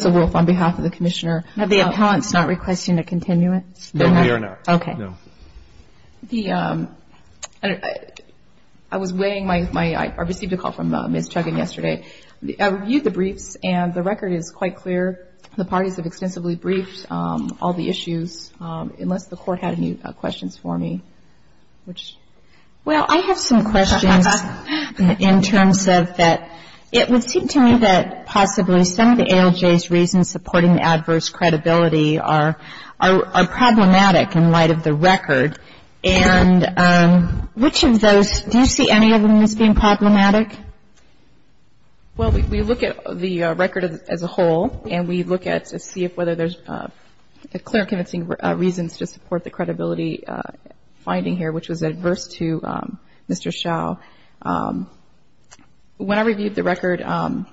I received a call from Ms. Chuggin yesterday. I reviewed the briefs and the record is quite clear. The parties have extensively briefed all the issues, unless the Court had any questions for me. Well, I have some questions in terms of that. It would seem to me that possibly some of ALJ's reasons supporting the adverse credibility are problematic in light of the record. And which of those, do you see any of them as being problematic? Well, we look at the record as a whole and we look at to see if whether there's clear convincing reasons to support the credibility finding here, which was adverse to Mr. Schow. When I reviewed the record, one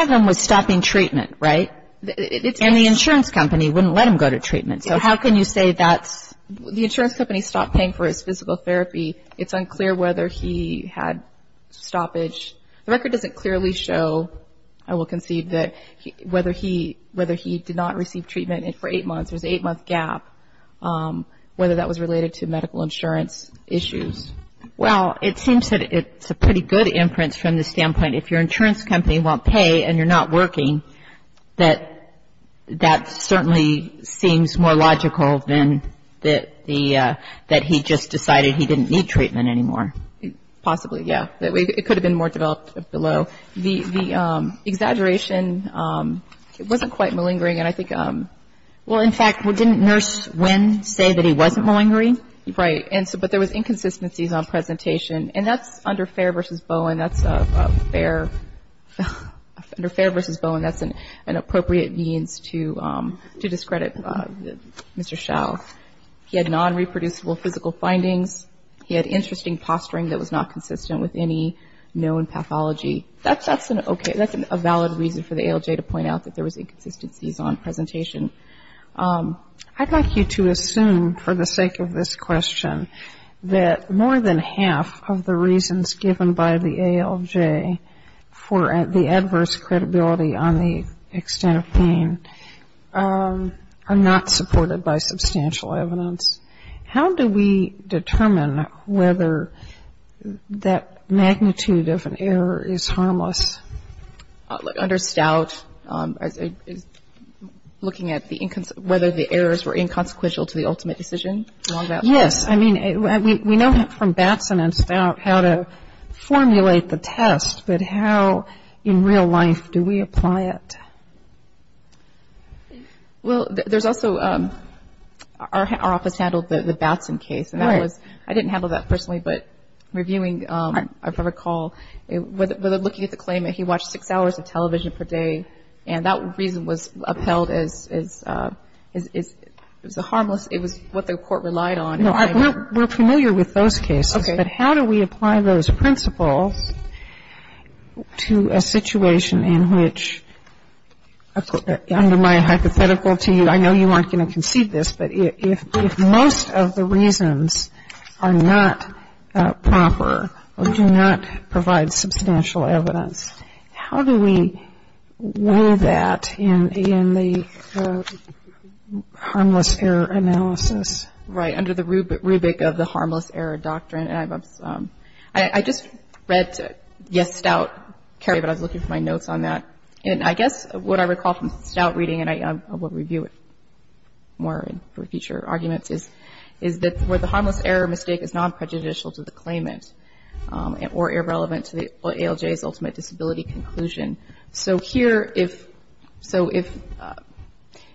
of them was stopping treatment, right? And the insurance company wouldn't let him go to treatment. So how can you say that's... The insurance company stopped paying for his physical therapy. It's unclear whether he had stoppage. The record doesn't clearly show, I will concede, whether he did not receive treatment for eight months. There's an eight-month gap, whether that was related to medical insurance issues. Well, it seems that it's a pretty good inference from the standpoint if your insurance company won't pay and you're not working, that that certainly seems more logical than the, that he just decided he didn't need treatment anymore. Possibly, yes. It could have been more developed below. The exaggeration, it wasn't quite malingering. And I think, well, in fact, didn't Nurse Wynn say that he wasn't malingering? Right. And so, but there was inconsistencies on presentation. And that's under Fair v. Bowen. That's a fair, under Fair v. Bowen, that's an appropriate means to discredit Mr. Schow. He had non-reproducible physical findings. He had interesting posturing that was not consistent with any known pathology. That's an okay, that's a valid reason for the ALJ to point out that there was inconsistencies on presentation. I'd like you to assume, for the sake of this question, that more than half of the reasons given by the ALJ for the adverse credibility on the extent of pain are not supported by substantial evidence. How do we determine whether that magnitude of an error is harmless? Under Stout, looking at whether the errors were inconsequential to the ultimate decision? Yes. I mean, we know from Batson and Stout how to formulate the test, but how in real life do we apply it? Well, there's also, our office handled the Batson case, and that was, I didn't handle that personally, but reviewing, if I recall, looking at the claimant, he watched six hours of television per day, and that reason was upheld as harmless. It was what the Court relied on. No, we're familiar with those cases, but how do we apply those principles to a situation in which, under my hypothetical to you, I know you aren't going to concede this, but if most of the reasons are not proper or do not provide substantial evidence, how do we weigh that in the harmless error analysis? Right. Under the rubric of the harmless error doctrine, and I just read, yes, Stout, Kerry, but I was looking for my notes on that, and I guess what I recall from Stout reading, and I will review it more for future arguments, is that where the harmless error mistake is non-prejudicial to the claimant or irrelevant to the ALJ's ultimate disability conclusion. So here, if, so if,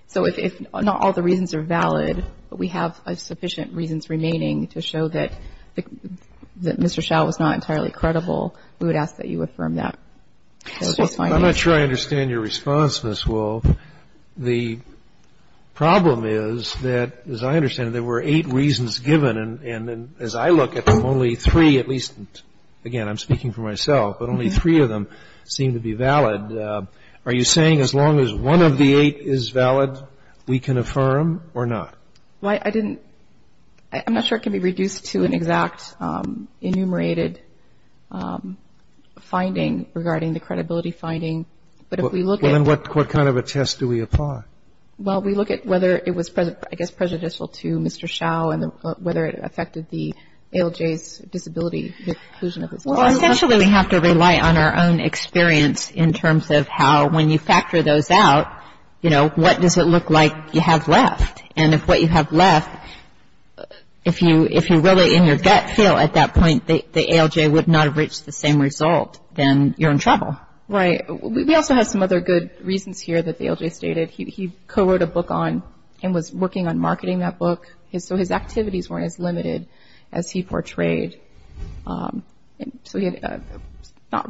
so if not all the reasons are valid, but we have sufficient reasons remaining to show that Mr. Schall was not entirely credible, we would ask that you affirm that. I'm not sure I understand your response, Ms. Wolff. The problem is that, as I understand it, there were eight reasons given, and as I look at them, only three, at least, again, I'm speaking for myself, but only three of them seem to be valid. Are you saying as long as one of the eight is valid, we can affirm or not? Well, I didn't – I'm not sure it can be reduced to an exact enumerated finding regarding the credibility finding, but if we look at – Well, then what kind of a test do we apply? Well, we look at whether it was, I guess, prejudicial to Mr. Schall and whether it affected the ALJ's disability conclusion of his claim. Well, essentially, we have to rely on our own experience in terms of how, when you factor those out, you know, what does it look like you have left? And if what you have left, if you really in your gut feel at that point the ALJ would not have reached the same result, then you're in trouble. Right. We also have some other good reasons here that the ALJ stated. He co-wrote a book on and was working on marketing that book, so his activities weren't as limited as he portrayed. So he had not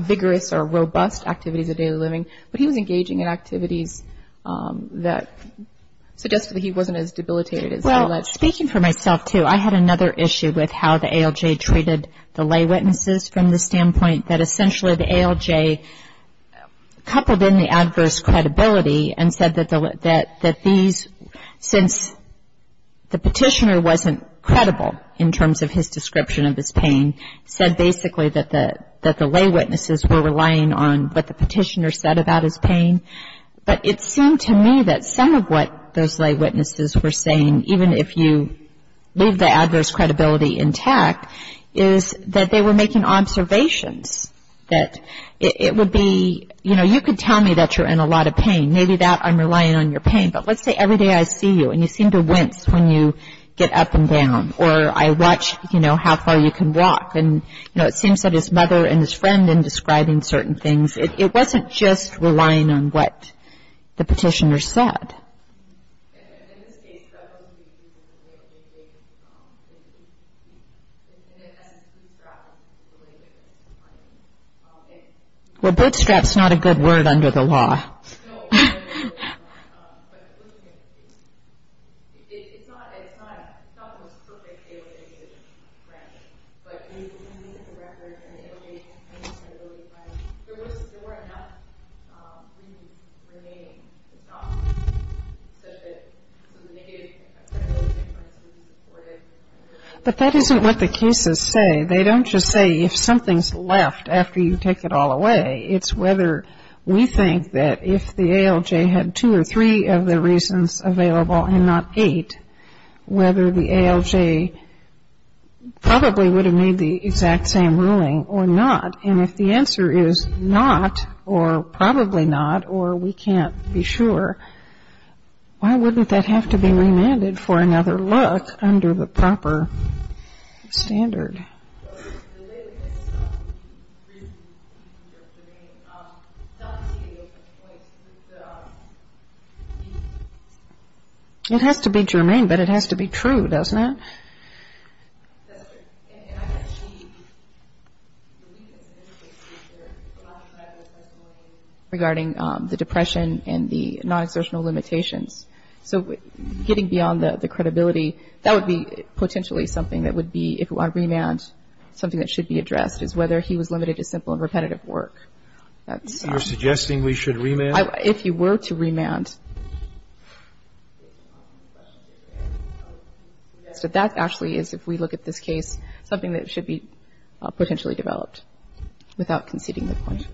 vigorous or robust activities of daily living, but he was engaging in activities that suggested that he wasn't as debilitated as he alleged. Well, speaking for myself, too, I had another issue with how the ALJ treated the lay witnesses from the standpoint that essentially the ALJ coupled in the adverse credibility and said that these – since the petitioner wasn't credible in terms of his description of his pain, said basically that the lay witnesses were relying on what the petitioner said about his pain, but it seemed to me that some of what those lay witnesses were saying, even if you leave the adverse credibility intact, is that they were making observations that it would be, you know, you could tell me that you're in a lot of pain. Maybe that I'm relying on your pain, but let's say every day I see you and you seem to wince when you get up and down or I watch, you know, how far you can walk and, you know, it seems that his mother and his friend in describing certain things, it wasn't just relying on what the petitioner said. In this case, that wasn't being used in a way that they could – and it has a bootstrap related to money. Well, bootstrap's not a good word under the law. No, but looking at the case, it's not – it's not – it's not the most perfect ALJ decision, granted. But looking at the record and the ALJ's pain and credibility behind it, there was – there were enough reasons remaining. It's not such that some negative credibility differences were supported. But that isn't what the cases say. They don't just say if something's left after you take it all away. It's whether we think that if the ALJ had two or three of the reasons available and not eight, whether the ALJ probably would have made the exact same ruling or not. And if the answer is not or probably not or we can't be sure, why wouldn't that have to be remanded for another look under the proper standard? Okay. It has to be germane, but it has to be true, doesn't it? Regarding the depression and the non-exertional limitations. So getting beyond the credibility, that would be potentially something that would be, if we want to remand, something that should be addressed, is whether he was limited to simple and repetitive work. That's – You're suggesting we should remand? If you were to remand, that actually is, if we look at this case, something that should be potentially developed without conceding the point.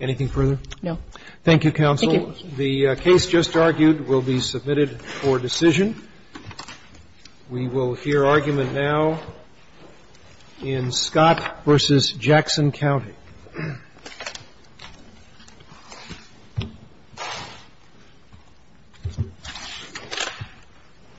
Anything further? No. Thank you, counsel. Thank you. The case just argued will be submitted for decision. We will hear argument now in Scott v. Jackson County.